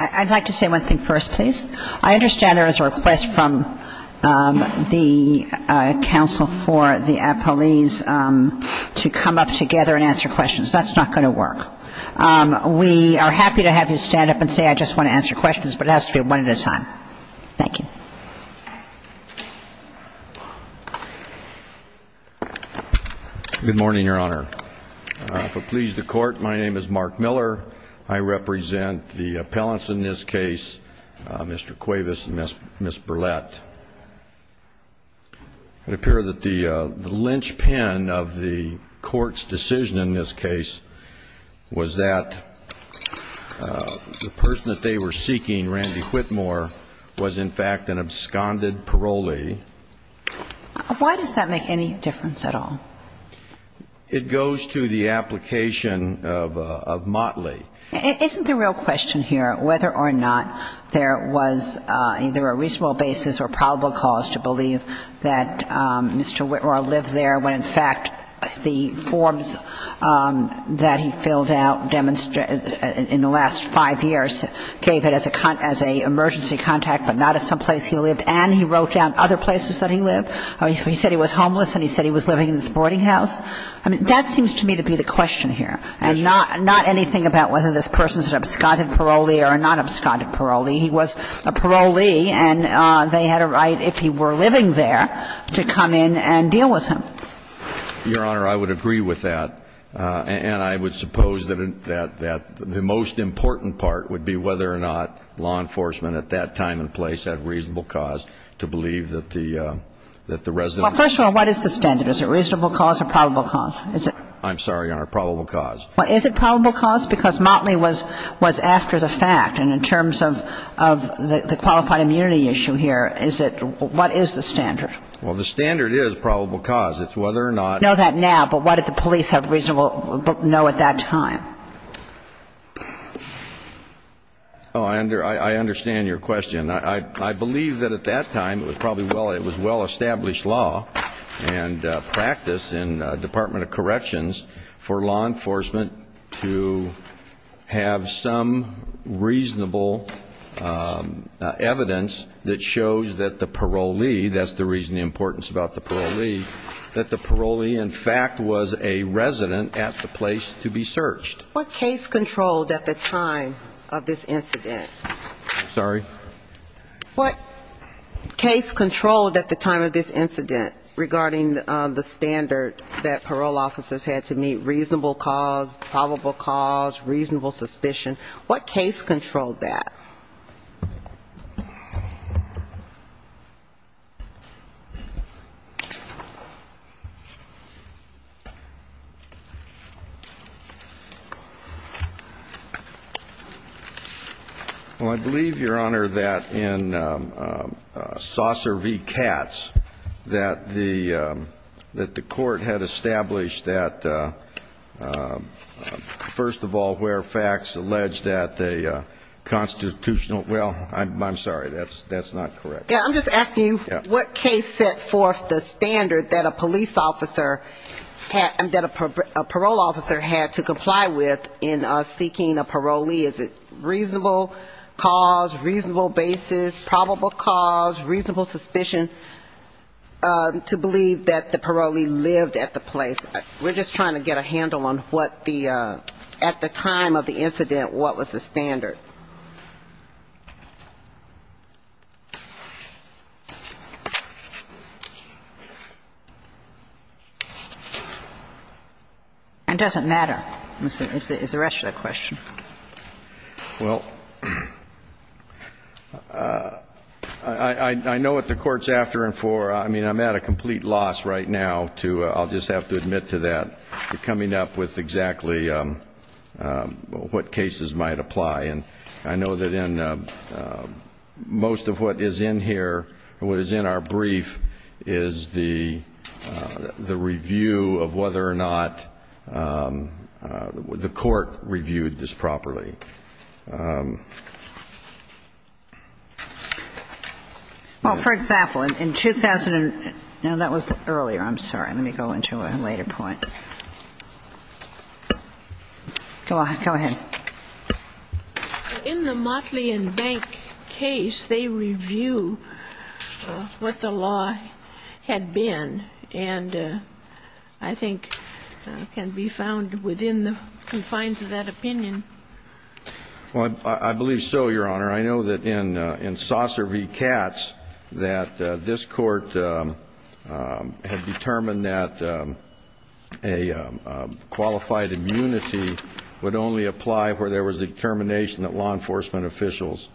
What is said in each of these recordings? I'd like to say one thing first, please. I understand there was a request from the counsel for the appellees to come up together and answer questions. That's not going to work. We are happy to have you stand up and say, I just want to answer questions, but I don't think that's going to work. It has to be one at a time. Thank you. Why does that make any difference at all? It goes to the application of Motley. Isn't the real question here whether or not there was either a reasonable basis or probable cause to believe that Mr. Whitmore lived there when, in fact, the forms that he filled out in the last five years gave it as an emergency contact, but not as someplace he lived, and he wrote down other places that he lived? He said he was homeless and he said he was living in this boarding house. I mean, that seems to me to be the question here, and not anything about whether this person is an absconded parolee or a non-absconded parolee. He was a parolee, and they had a right, if he were living there, to come in and deal with him. Your Honor, I would agree with that, and I would suppose that the most important part would be whether or not law enforcement at that time and place had a reasonable cause to believe that the resident was there. Well, first of all, what is the standard? Is it a reasonable cause or probable cause? I'm sorry, Your Honor, probable cause. Is it probable cause? Because Motley was after the fact, and in terms of the qualified immunity issue here, what is the standard? Well, the standard is probable cause. It's whether or not... Know that now, but what did the police have reasonable know at that time? Oh, I understand your question. I believe that at that time it was probably well established law and practice in the Department of Corrections for law enforcement to have some reasonable evidence that shows that the parolee, that's the reason the importance about the parolee, that the parolee, in fact, was a resident at the place to be searched. What case controlled at the time of this incident? Sorry? What case controlled at the time of this incident regarding the standard that parole officers had to meet, reasonable cause, probable cause, reasonable suspicion? What case controlled that? Well, I believe, Your Honor, that in Saucer v. Katz that the court had established that, first of all, where facts allege that a constitutional – well, I'm sorry, that's not correct. Yeah, I'm just asking what case set forth the standard that a police officer – that a parole officer had to comply with in seeking a parolee? Is it reasonable cause, reasonable basis, probable cause, reasonable suspicion to believe that the parolee lived at the place? We're just trying to get a handle on what the – at the time of the incident, what was the standard. It doesn't matter, is the rest of the question. Well, I know what the court's after and for. I mean, I'm at a complete loss right now to – I'll just have to admit to that, to coming up with exactly what cases might apply. And I know that in most of what is in here, what is in our brief, is the review of whether or not the court reviewed this properly. Well, for example, in – no, that was earlier. I'm sorry. Let me go into a later point. Go ahead. In the Motley and Bank case, they review what the law had been and I think can be found within the confines of that opinion. Well, I believe so, Your Honor. I know that in Saucer v. Katz that this court had determined that a qualified immunity would only apply where there was a determination that law enforcement officials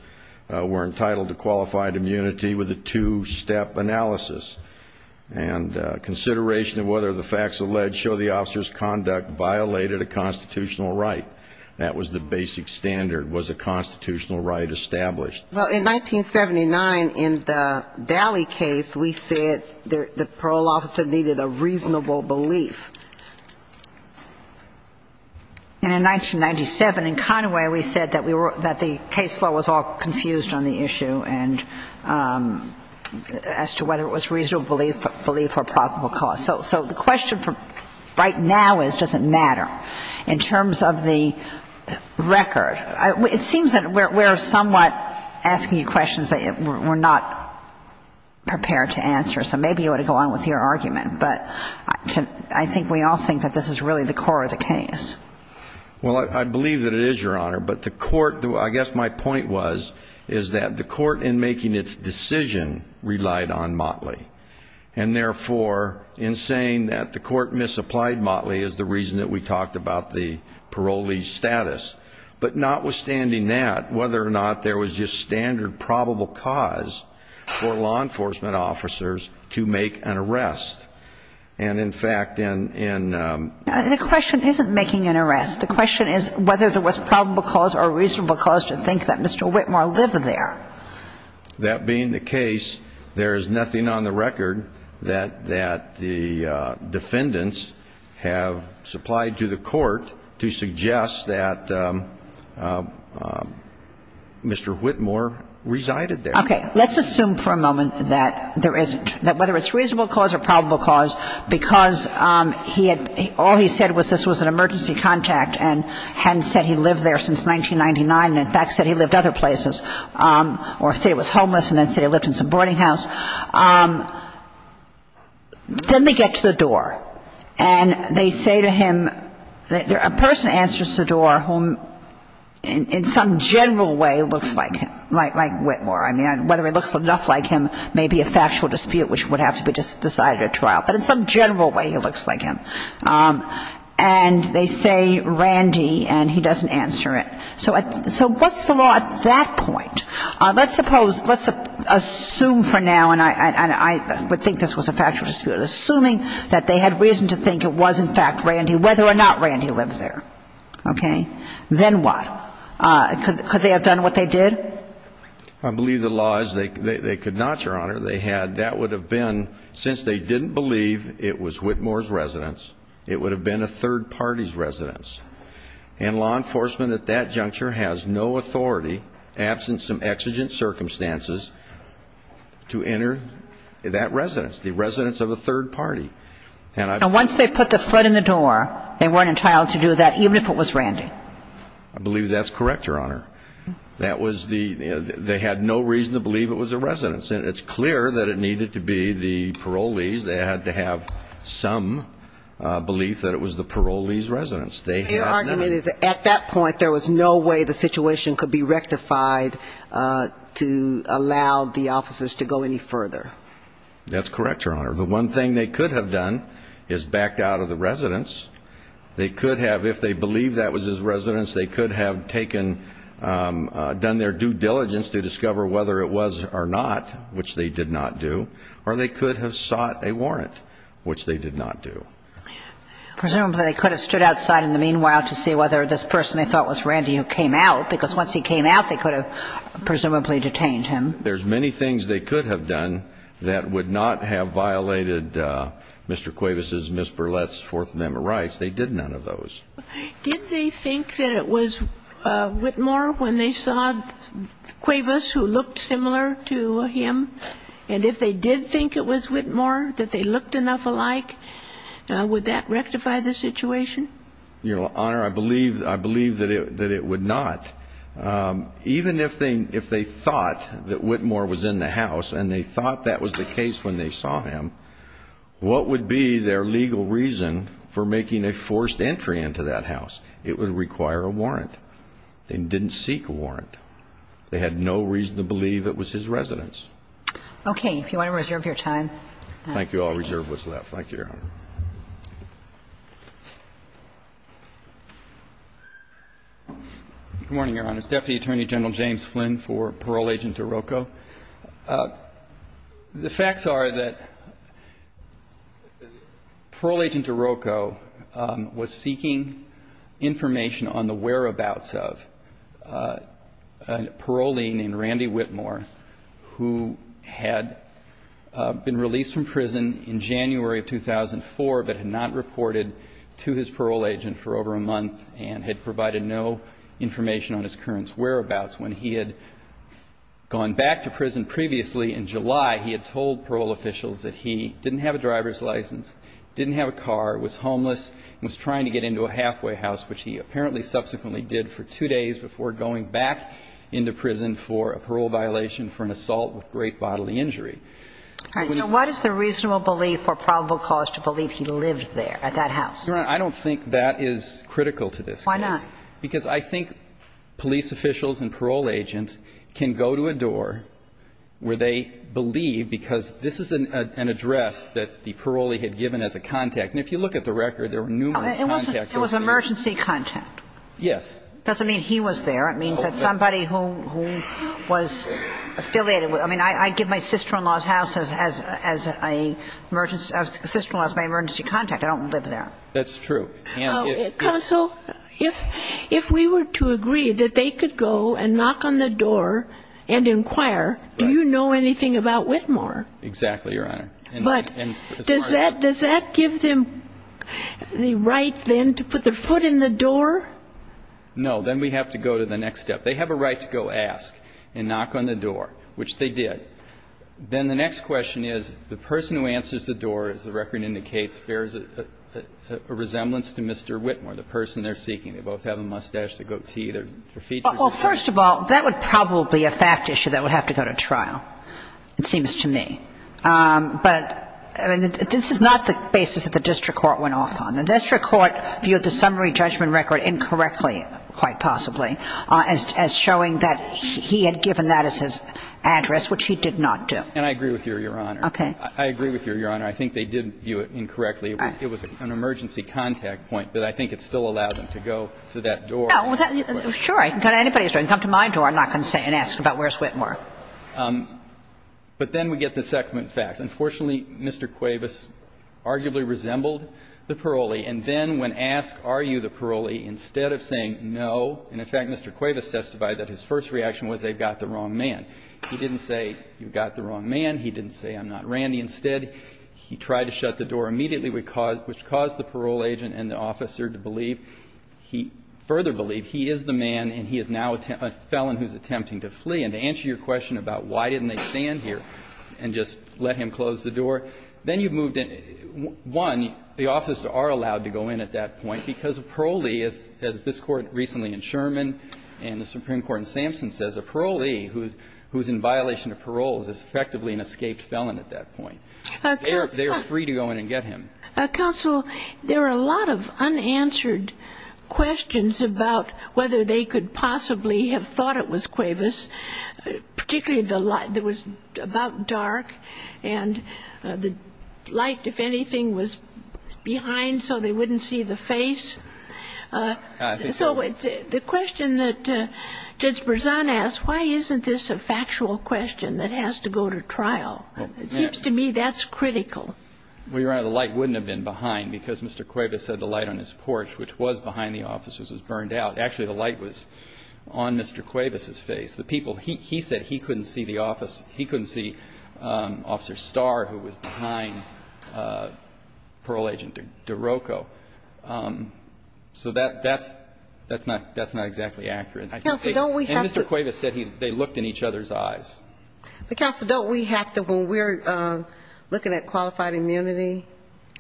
were entitled to qualified immunity with a two-step analysis. And consideration of whether the facts alleged show the officer's conduct violated a constitutional right. That was the basic standard. Was a constitutional right established? Well, in 1979, in the Valley case, we said the parole officer needed a reasonable belief. And in 1997, in Conway, we said that we were – that the case law was all confused on the issue and as to whether it was reasonable belief or probable cause. So the question right now is, does it matter? In terms of the record, it seems that we're somewhat asking you questions that we're not prepared to answer. So maybe you ought to go on with your argument. But I think we all think that this is really the core of the case. Well, I believe that it is, Your Honor. But the court – I guess my point was, is that the court in making its decision relied on Motley. And therefore, in saying that the court misapplied Motley is the reason that we talked about the parolee status. But notwithstanding that, whether or not there was just standard probable cause for law enforcement officers to make an arrest. And in fact, in – The question isn't making an arrest. The question is whether there was probable cause or reasonable cause to think that Mr. Whitmore lived there. That being the case, there is nothing on the record that – that the defendants have supplied to the court to suggest that Mr. Whitmore resided there. Okay. Let's assume for a moment that there is – that whether it's reasonable cause or probable cause, because he had – all he said was this was an emergency contact and hadn't said he lived there since 1999 and, in fact, said he lived other places or said he was homeless and then said he lived in some boarding house. Then they get to the door. And they say to him – a person answers the door whom in some general way looks like him, like Whitmore. I mean, whether it looks enough like him may be a factual dispute which would have to be decided at trial. But in some general way, he looks like him. And they say, Randy, and he doesn't answer it. So what's the law at that point? Let's suppose – let's assume for now, and I would think this was a factual dispute, assuming that they had reason to think it was, in fact, Randy, whether or not Randy lived there. Okay. Then what? Could they have done what they did? I believe the law is they could not, Your Honor. They had – that would have been, since they didn't believe it was Whitmore's residence, it would have been a third party's residence. And law enforcement at that juncture has no authority, absent some exigent circumstances, to enter that residence, the residence of a third party. And once they put the foot in the door, they weren't entitled to do that, even if it was Randy. I believe that's correct, Your Honor. That was the – they had no reason to believe it was a residence. And it's clear that it needed to be the parolee's. They had to have some belief that it was the parolee's residence. Their argument is that at that point, there was no way the situation could be rectified to allow the officers to go any further. That's correct, Your Honor. The one thing they could have done is backed out of the residence. They could have, if they believed that was his residence, they could have taken – done their due diligence to discover whether it was or not, which they did not do, or they could have sought a warrant, which they did not do. Presumably, they could have stood outside in the meanwhile to see whether this person they thought was Randy who came out, because once he came out, they could have presumably detained him. There's many things they could have done that would not have violated Mr. Cuevas's, Ms. Burlett's Fourth Amendment rights. They did none of those. Did they think that it was Whitmore when they saw Cuevas who looked similar to him? And if they did think it was Whitmore, that they looked enough alike, would that rectify the situation? Your Honor, I believe that it would not. Even if they thought that Whitmore was in the house and they thought that was the case when they saw him, what would be their legal reason for making a forced entry into that house? It would require a warrant. They didn't seek a warrant. They had no reason to believe it was his residence. Okay. If you want to reserve your time. Thank you. I'll reserve what's left. Thank you, Your Honor. Good morning, Your Honor. Deputy Attorney General James Flynn for Parole Agent Iroko. The facts are that Parole Agent Iroko was seeking information on the whereabouts of a parolee named Randy Whitmore who had been released from prison in January of 2004 but had not reported to his parole agent for over a month and had provided no information on his current whereabouts. When he had gone back to prison previously in July, he had told parole officials that he didn't have a driver's license, didn't have a car, was homeless and was trying to get into a halfway house, which he apparently subsequently did for two days before going back into prison for a parole violation for an assault with great bodily injury. All right. So what is the reasonable belief or probable cause to believe he lived there at that house? Your Honor, I don't think that is critical to this case. Why not? Because I think police officials and parole agents can go to a door where they believe because this is an address that the parolee had given as a contact. And if you look at the record, there were numerous contacts in there. It was an emergency contact. Yes. It doesn't mean he was there. It means that somebody who was affiliated with it. I mean, I give my sister-in-law's house as an emergency contact. I don't live there. That's true. Counsel, if we were to agree that they could go and knock on the door and inquire, do you know anything about Whitmore? Exactly, Your Honor. But does that give them the right, then, to put their foot in the door? No. Then we have to go to the next step. They have a right to go ask and knock on the door, which they did. Then the next question is the person who answers the door, as the record indicates, bears a resemblance to Mr. Whitmore, the person they're seeking. They both have a mustache that goes to either their feet or something. Well, first of all, that would probably be a fact issue that would have to go to trial, it seems to me. But this is not the basis that the district court went off on. The district court viewed the summary judgment record incorrectly, quite possibly, as showing that he had given that as his address, which he did not do. And I agree with you, Your Honor. Okay. I agree with you, Your Honor. I think they did view it incorrectly. All right. It was an emergency contact point, but I think it still allowed them to go to that door. No. Sure. I can go to anybody's door. I can come to my door and knock and say and ask about where's Whitmore. But then we get the second fact. Unfortunately, Mr. Cuevas arguably resembled the parolee. And then when asked, are you the parolee, instead of saying no, and in fact Mr. Cuevas testified that his first reaction was they've got the wrong man. He didn't say you've got the wrong man. He didn't say I'm not Randy. Instead, he tried to shut the door immediately, which caused the parole agent and the officer to believe, he further believed, he is the man and he is now a felon who is attempting to flee. And to answer your question about why didn't they stand here and just let him close the door, then you've moved in. One, the officers are allowed to go in at that point, because a parolee, as this Court recently in Sherman and the Supreme Court in Sampson says, a parolee who is in that point. They are free to go in and get him. Counsel, there are a lot of unanswered questions about whether they could possibly have thought it was Cuevas, particularly the light. It was about dark. And the light, if anything, was behind so they wouldn't see the face. So the question that Judge Berzon asked, why isn't this a factual question that has to go to trial? It seems to me that's critical. Well, Your Honor, the light wouldn't have been behind, because Mr. Cuevas said the light on his porch, which was behind the officers, was burned out. Actually, the light was on Mr. Cuevas' face. The people he said he couldn't see the office, he couldn't see Officer Starr, who was behind Parole Agent DeRocco. So that's not exactly accurate. Counsel, don't we have to. And Mr. Cuevas said they looked in each other's eyes. But, Counsel, don't we have to. When we're looking at qualified immunity,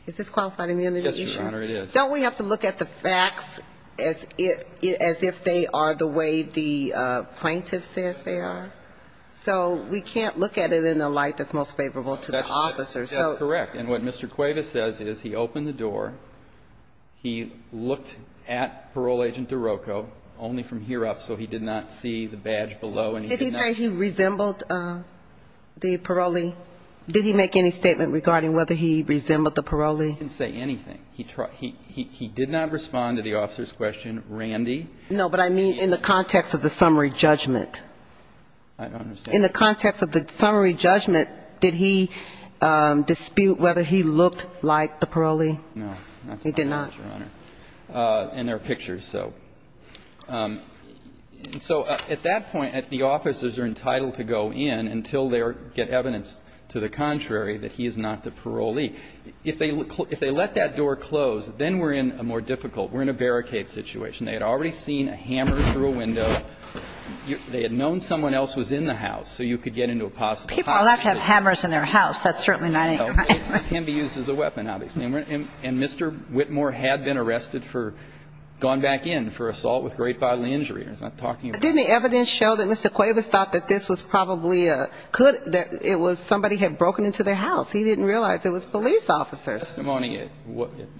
is this qualified immunity? Yes, Your Honor, it is. Don't we have to look at the facts as if they are the way the plaintiff says they are? So we can't look at it in a light that's most favorable to the officers. That's correct. And what Mr. Cuevas says is he opened the door, he looked at Parole Agent DeRocco only from here up, so he did not see the badge below. Did he say he resembled the parolee? Did he make any statement regarding whether he resembled the parolee? He didn't say anything. He did not respond to the officer's question, Randy. No, but I mean in the context of the summary judgment. I don't understand. In the context of the summary judgment, did he dispute whether he looked like the parolee? No, not to my knowledge, Your Honor. He did not. And there are pictures, so. So at that point, the officers are entitled to go in until they get evidence to the contrary, that he is not the parolee. If they let that door close, then we're in a more difficult, we're in a barricade situation. They had already seen a hammer through a window. They had known someone else was in the house, so you could get into a possible house. People are allowed to have hammers in their house. That's certainly not a crime. It can be used as a weapon, obviously. And Mr. Whitmore had been arrested for, gone back in for assault with great bodily injury. I'm not talking about. Didn't the evidence show that Mr. Cuevas thought that this was probably a, that it was somebody had broken into their house. He didn't realize it was police officers. The testimony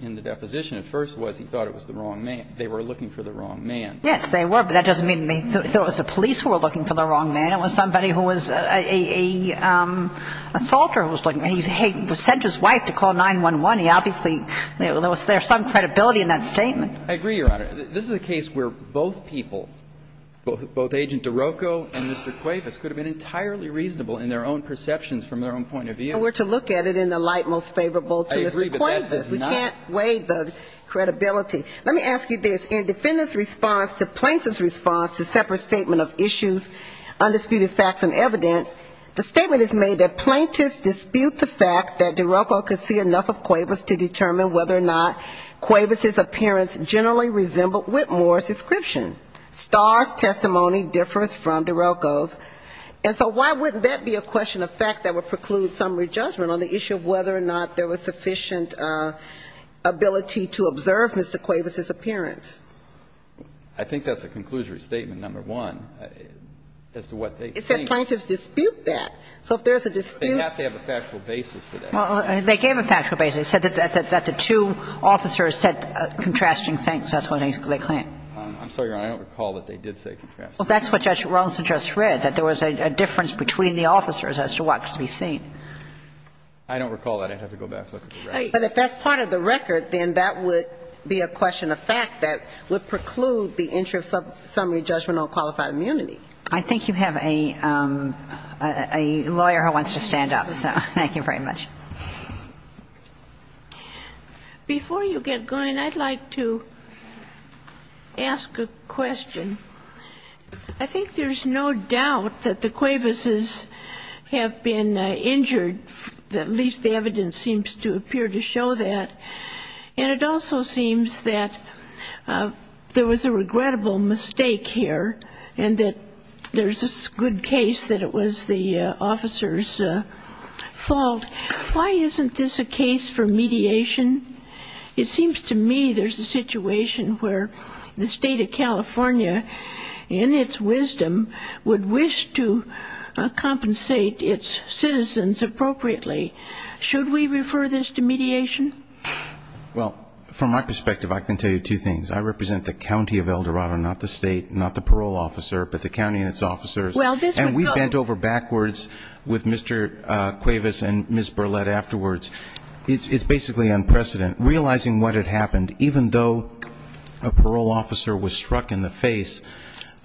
in the deposition at first was he thought it was the wrong man. They were looking for the wrong man. Yes, they were, but that doesn't mean they thought it was the police who were looking for the wrong man. It was somebody who was a assaulter who was looking. He sent his wife to call 911. He obviously, there was some credibility in that statement. I agree, Your Honor. This is a case where both people, both Agent DeRocco and Mr. Cuevas could have been entirely reasonable in their own perceptions from their own point of view. We're to look at it in the light most favorable to Mr. Cuevas. I agree, but that is not. We can't weigh the credibility. Let me ask you this. In defendant's response to plaintiff's response to separate statement of issues, undisputed facts and evidence, the statement is made that plaintiffs dispute the fact that DeRocco could see enough of Cuevas to determine whether or not Cuevas' appearance generally resembled Whitmore's description. Starr's testimony differs from DeRocco's. And so why wouldn't that be a question of fact that would preclude summary judgment on the issue of whether or not there was sufficient ability to observe Mr. Cuevas' appearance? I think that's a conclusory statement, number one, as to what they think. It's that plaintiffs dispute that. So if there's a dispute they have to have a factual basis for that. Well, they gave a factual basis. They said that the two officers said contrasting things. That's what they claim. I'm sorry, Your Honor. I don't recall that they did say contrasting things. Well, that's what Judge Rawlinson just read, that there was a difference between the officers as to what could be seen. I don't recall that. I'd have to go back and look at the record. But if that's part of the record, then that would be a question of fact that would preclude the entry of summary judgment on qualified immunity. I think you have a lawyer who wants to stand up. So thank you very much. Before you get going, I'd like to ask a question. I think there's no doubt that the Cuevas' have been injured, at least the evidence seems to appear to show that. And it also seems that there was a regrettable mistake here and that there's a good case that it was the officer's fault. Why isn't this a case for mediation? It seems to me there's a situation where the State of California, in its wisdom, would wish to compensate its citizens appropriately. Should we refer this to mediation? Well, from my perspective, I can tell you two things. I represent the county of El Dorado, not the state, not the parole officer, but the county and its officers. And we bent over backwards with Mr. Cuevas and Ms. Burlett afterwards. It's basically unprecedented. Realizing what had happened, even though a parole officer was struck in the face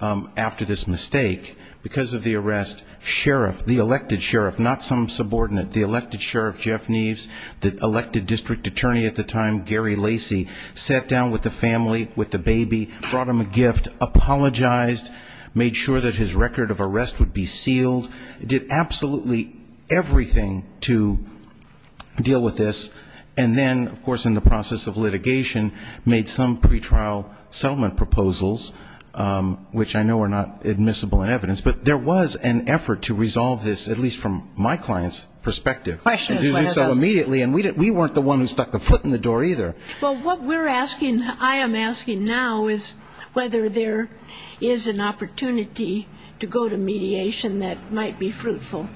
after this mistake, because of the arrest, sheriff, the elected sheriff, not some subordinate, the elected sheriff, Jeff Neves, the elected district attorney at the time, Gary Lacy, sat down with the family, with the baby, brought them a gift, apologized, made sure that his record of arrest would be sealed, did absolutely everything to deal with this. And then, of course, in the process of litigation, made some pretrial settlement proposals, which I know are not admissible in evidence. But there was an effort to resolve this, at least from my client's perspective. And we didn't do so immediately. And we weren't the ones who stuck the foot in the door either. Well, what we're asking, I am asking now, is whether there is an opportunity to go to mediation that might be fruitful.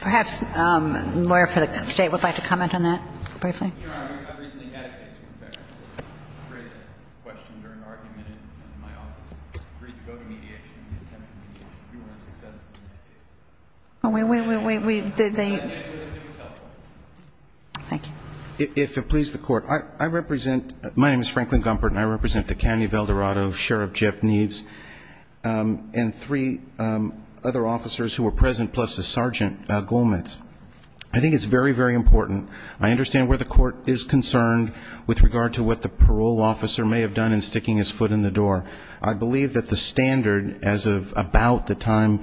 Perhaps the lawyer for the State would like to comment on that briefly. Your Honor, I recently had a case in effect. I raised that question during an argument in my office. I agreed to go to mediation in an attempt to make sure we weren't successful in that case. We, we, we, we, did they? And it was still helpful. Thank you. If it pleases the Court, I represent, my name is Franklin Gumpert, and I represent the County of El Dorado Sheriff Jeff Neves and three other officers who were present, plus the Sergeant Golmetz. I think it's very, very important. I understand where the Court is concerned with regard to what the parole officer may have done in sticking his foot in the door. I believe that the standard as of about the time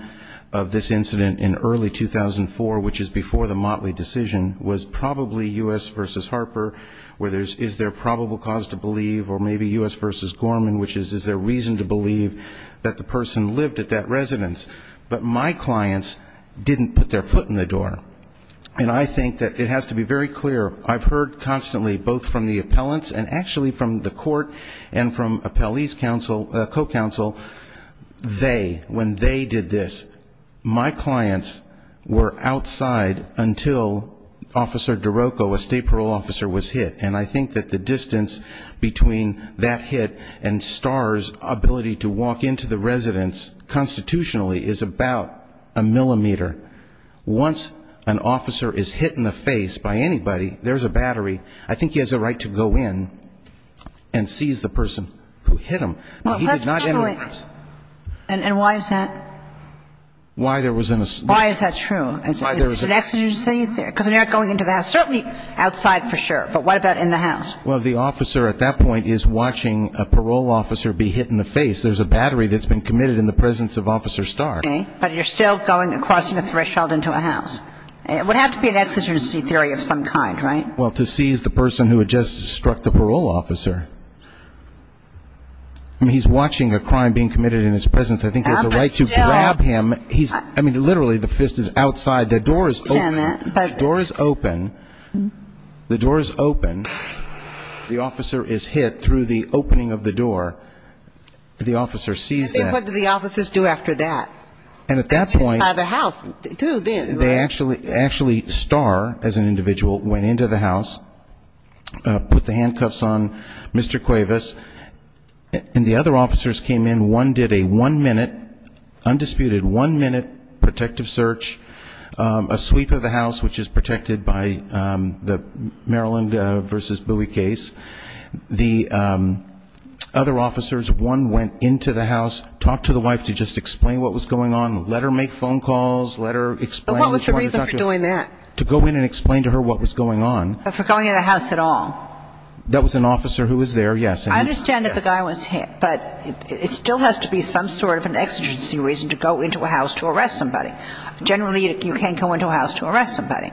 of this incident in early 2004, which is before the Motley decision, was probably U.S. v. Harper, where there's, is there probable cause to believe, or maybe U.S. v. Gorman, which is, is there reason to believe that the person lived at that residence. But my clients didn't put their foot in the door. And I think that it has to be very clear. I've heard constantly both from the appellants and actually from the Court and from appellee's counsel, co-counsel, they, when they did this, my clients were outside until Officer DeRocco, a state parole officer, was hit. And I think that the distance between that hit and Starr's ability to walk into the residence constitutionally is about a millimeter. Once an officer is hit in the face by anybody, there's a battery, I think he has a right to go in and seize the person who hit him. And why is that? Why is that true? Because they're not going into the house. Certainly outside for sure, but what about in the house? Well, the officer at that point is watching a parole officer be hit in the face. There's a battery that's been committed in the presence of Officer Starr. Okay. But you're still crossing a threshold into a house. It would have to be an exigency theory of some kind, right? Well, to seize the person who had just struck the parole officer. I mean, he's watching a crime being committed in his presence. I think there's a right to grab him. I mean, literally the fist is outside. The door is open. The door is open. The door is open. The officer is hit through the opening of the door. The officer sees that. And what do the officers do after that? And at that point they actually, Starr, as an individual, went into the house, put the handcuffs on Mr. Cuevas, and the other officers came in, one did a one-minute, undisputed one-minute protective search, a sweep of the house, which is protected by the Maryland v. Bowie case. The other officers, one went into the house, talked to the wife to just explain what was going on, let her make phone calls, let her explain. But what was the reason for doing that? To go in and explain to her what was going on. But for going in the house at all? That was an officer who was there, yes. I understand that the guy was hit. But it still has to be some sort of an exigency reason to go into a house to arrest somebody. Generally you can't go into a house to arrest somebody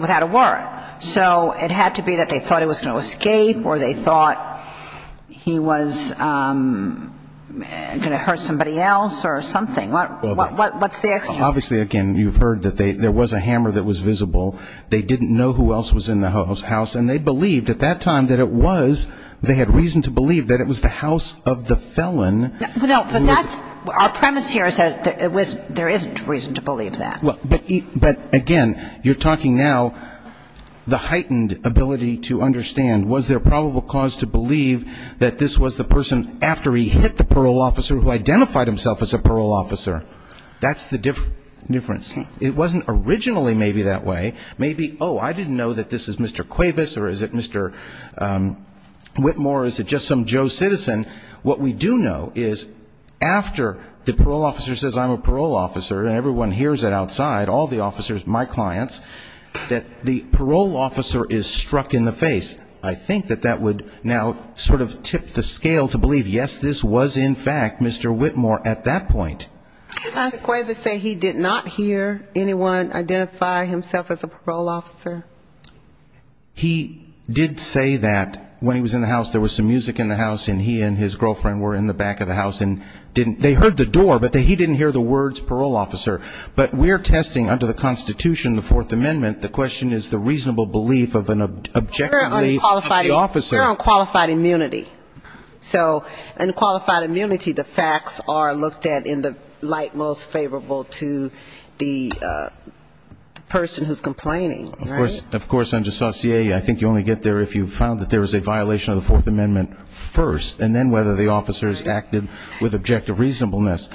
without a warrant. So it had to be that they thought he was going to escape or they thought he was going to hurt somebody else or something. What's the exigency? Obviously, again, you've heard that there was a hammer that was visible. They didn't know who else was in the house. And they believed at that time that it was, they had reason to believe that it was the house of the felon. No, but that's, our premise here is that it was, there isn't reason to believe that. But, again, you're talking now the heightened ability to understand was there probable cause to believe that this was the person after he hit the parole officer who identified himself as a parole officer? That's the difference. It wasn't originally maybe that way. Maybe, oh, I didn't know that this is Mr. Cuevas or is it Mr. Whitmore or is it just some Joe citizen? What we do know is after the parole officer says I'm a parole officer and everyone hears it outside, all the officers, my clients, that the parole officer is struck in the face. I think that that would now sort of tip the scale to believe, yes, this was in fact Mr. Whitmore at that point. Did Mr. Cuevas say he did not hear anyone identify himself as a parole officer? He did say that when he was in the house there was some music in the house and he and his girlfriend were in the back of the house and they heard the door, but he didn't hear the words parole officer. But we're testing under the Constitution, the Fourth Amendment, the question is the reasonable belief of an objectively qualified officer. We're on qualified immunity. So in qualified immunity, the facts are looked at in the light most favorable to the person who's complaining, right? Of course, I think you only get there if you found that there was a violation of the Fourth Amendment first, and then whether the officer has acted with objective reasonableness.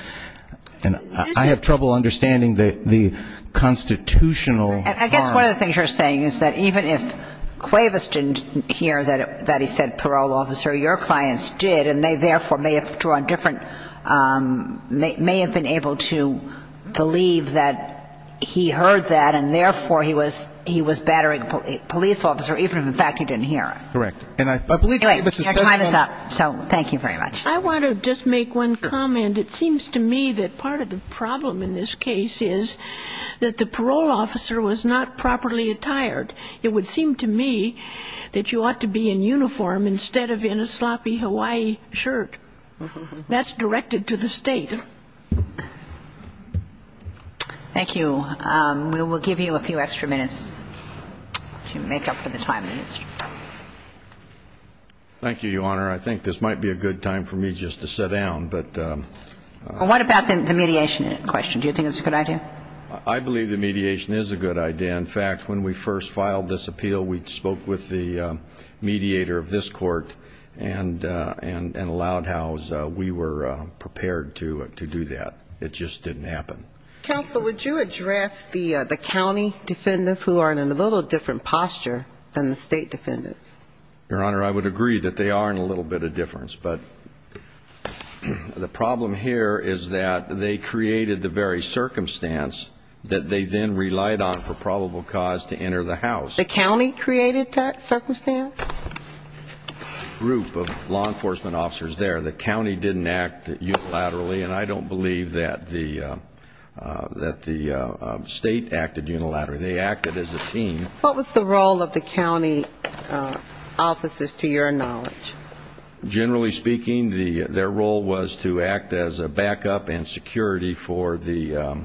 And I have trouble understanding the constitutional harm. I guess one of the things you're saying is that even if Cuevas didn't hear that he said parole officer, your clients did and they, therefore, may have drawn different, may have been able to believe that he heard that and, therefore, he was battering a police officer even if, in fact, he didn't hear it. Correct. Anyway, your time is up, so thank you very much. I want to just make one comment. And it seems to me that part of the problem in this case is that the parole officer was not properly attired. It would seem to me that you ought to be in uniform instead of in a sloppy Hawaii shirt. That's directed to the state. Thank you. We will give you a few extra minutes to make up for the time. Thank you, Your Honor. I think this might be a good time for me just to sit down, but... Well, what about the mediation question? Do you think it's a good idea? I believe the mediation is a good idea. In fact, when we first filed this appeal, we spoke with the mediator of this court and allowed how we were prepared to do that. It just didn't happen. Counsel, would you address the county defendants who are in a little different posture than the state defendants? Your Honor, I would agree that they are in a little bit of difference, but the problem here is that they created the very circumstance that they then relied on for probable cause to enter the house. The county created that circumstance? A group of law enforcement officers there. The county didn't act unilaterally, and I don't believe that the state acted unilaterally. They acted as a team. What was the role of the county officers, to your knowledge? Generally speaking, their role was to act as a backup and security for the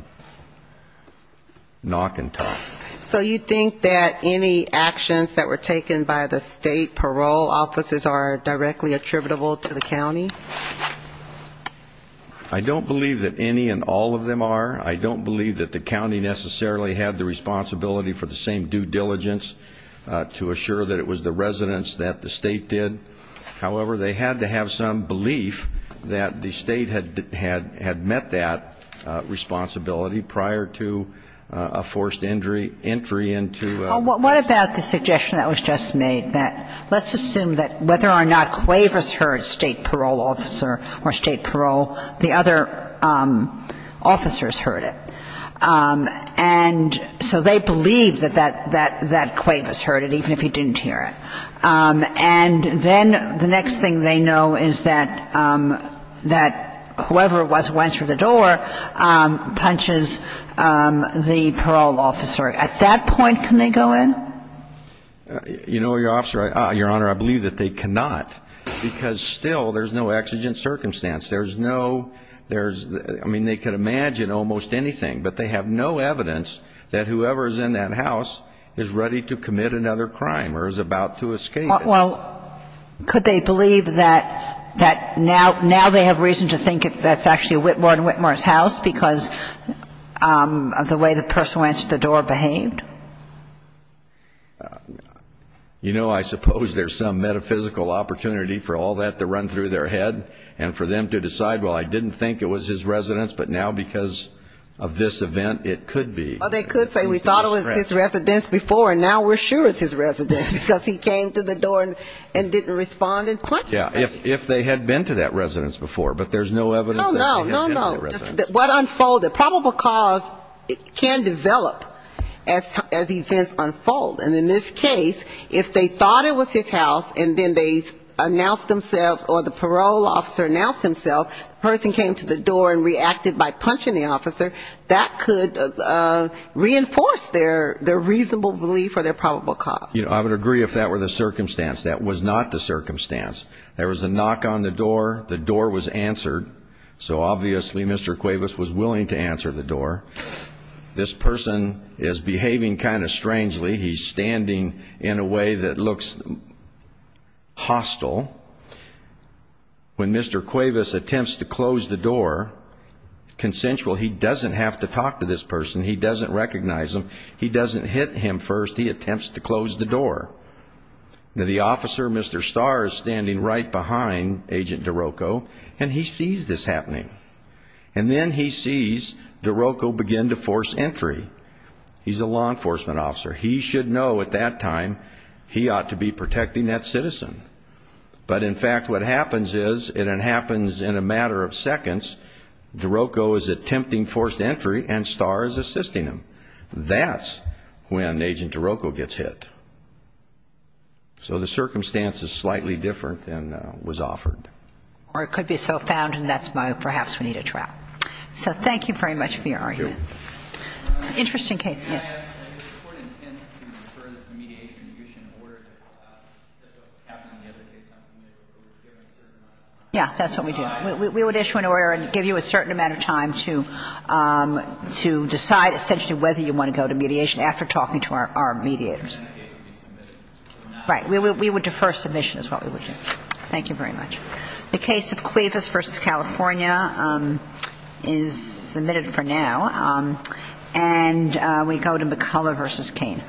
knock and talk. So you think that any actions that were taken by the state parole officers are directly attributable to the county? I don't believe that any and all of them are. I don't believe that the county necessarily had the responsibility for the same due diligence to assure that it was the residents that the state did. However, they had to have some belief that the state had met that responsibility prior to a forced entry into the house. What about the suggestion that was just made, that let's assume that whether or not Quavers heard state parole officer or state parole, the other officers heard it? And so they believed that that Quavers heard it, even if he didn't hear it. And then the next thing they know is that whoever went through the door punches the parole officer. At that point, can they go in? You know, Your Honor, I believe that they cannot, because still there's no exigent circumstance. There's no ‑‑ I mean, they could imagine almost anything, but they have no evidence that whoever is in that house is ready to commit another crime or is about to escape it. Well, could they believe that now they have reason to think that's actually Whitmore and Whitmore's house because of the way the person who answered the door behaved? You know, I suppose there's some metaphysical opportunity for all that to run through their head and for them to decide, well, I didn't think it was his residence, but now because of this event, it could be. Well, they could say we thought it was his residence before, and now we're sure it's his residence because he came through the door and didn't respond in person. Yeah, if they had been to that residence before, but there's no evidence that they had been to the residence. Oh, no, no, no. What unfolded, probable cause can develop as events unfold. And in this case, if they thought it was his house and then they announced themselves or the parole officer announced himself, the person came to the door and reacted by punching the officer, that could reinforce their reasonable belief or their probable cause. You know, I would agree if that were the circumstance. That was not the circumstance. There was a knock on the door, the door was answered, so obviously Mr. Cuevas was willing to answer the door. This person is behaving kind of strangely. He's standing in a way that looks hostile. When Mr. Cuevas attempts to close the door, consensual, he doesn't have to talk to this person. He doesn't recognize him. He doesn't hit him first. He attempts to close the door. The officer, Mr. Starr, is standing right behind Agent DeRocco, and he sees this happening. And then he sees DeRocco begin to force entry. He's a law enforcement officer. He should know at that time he ought to be protecting that citizen. But, in fact, what happens is, and it happens in a matter of seconds, DeRocco is attempting forced entry, and Starr is assisting him. That's when Agent DeRocco gets hit. So the circumstance is slightly different than was offered. Or it could be self-found, and that's why perhaps we need a trial. So thank you very much for your argument. Thank you. It's an interesting case. Yes. And if the Court intends to defer this mediation and issue an order that happened on the other day, it's not permitted, but we're giving a certain amount of time. Yeah, that's what we do. We would issue an order and give you a certain amount of time to decide essentially whether you want to go to mediation after talking to our mediators. And then that case would be submitted. Right. We would defer submission is what we would do. Thank you very much. The case of Cuevas v. California is submitted for now. And we go to McCullough v. Cain.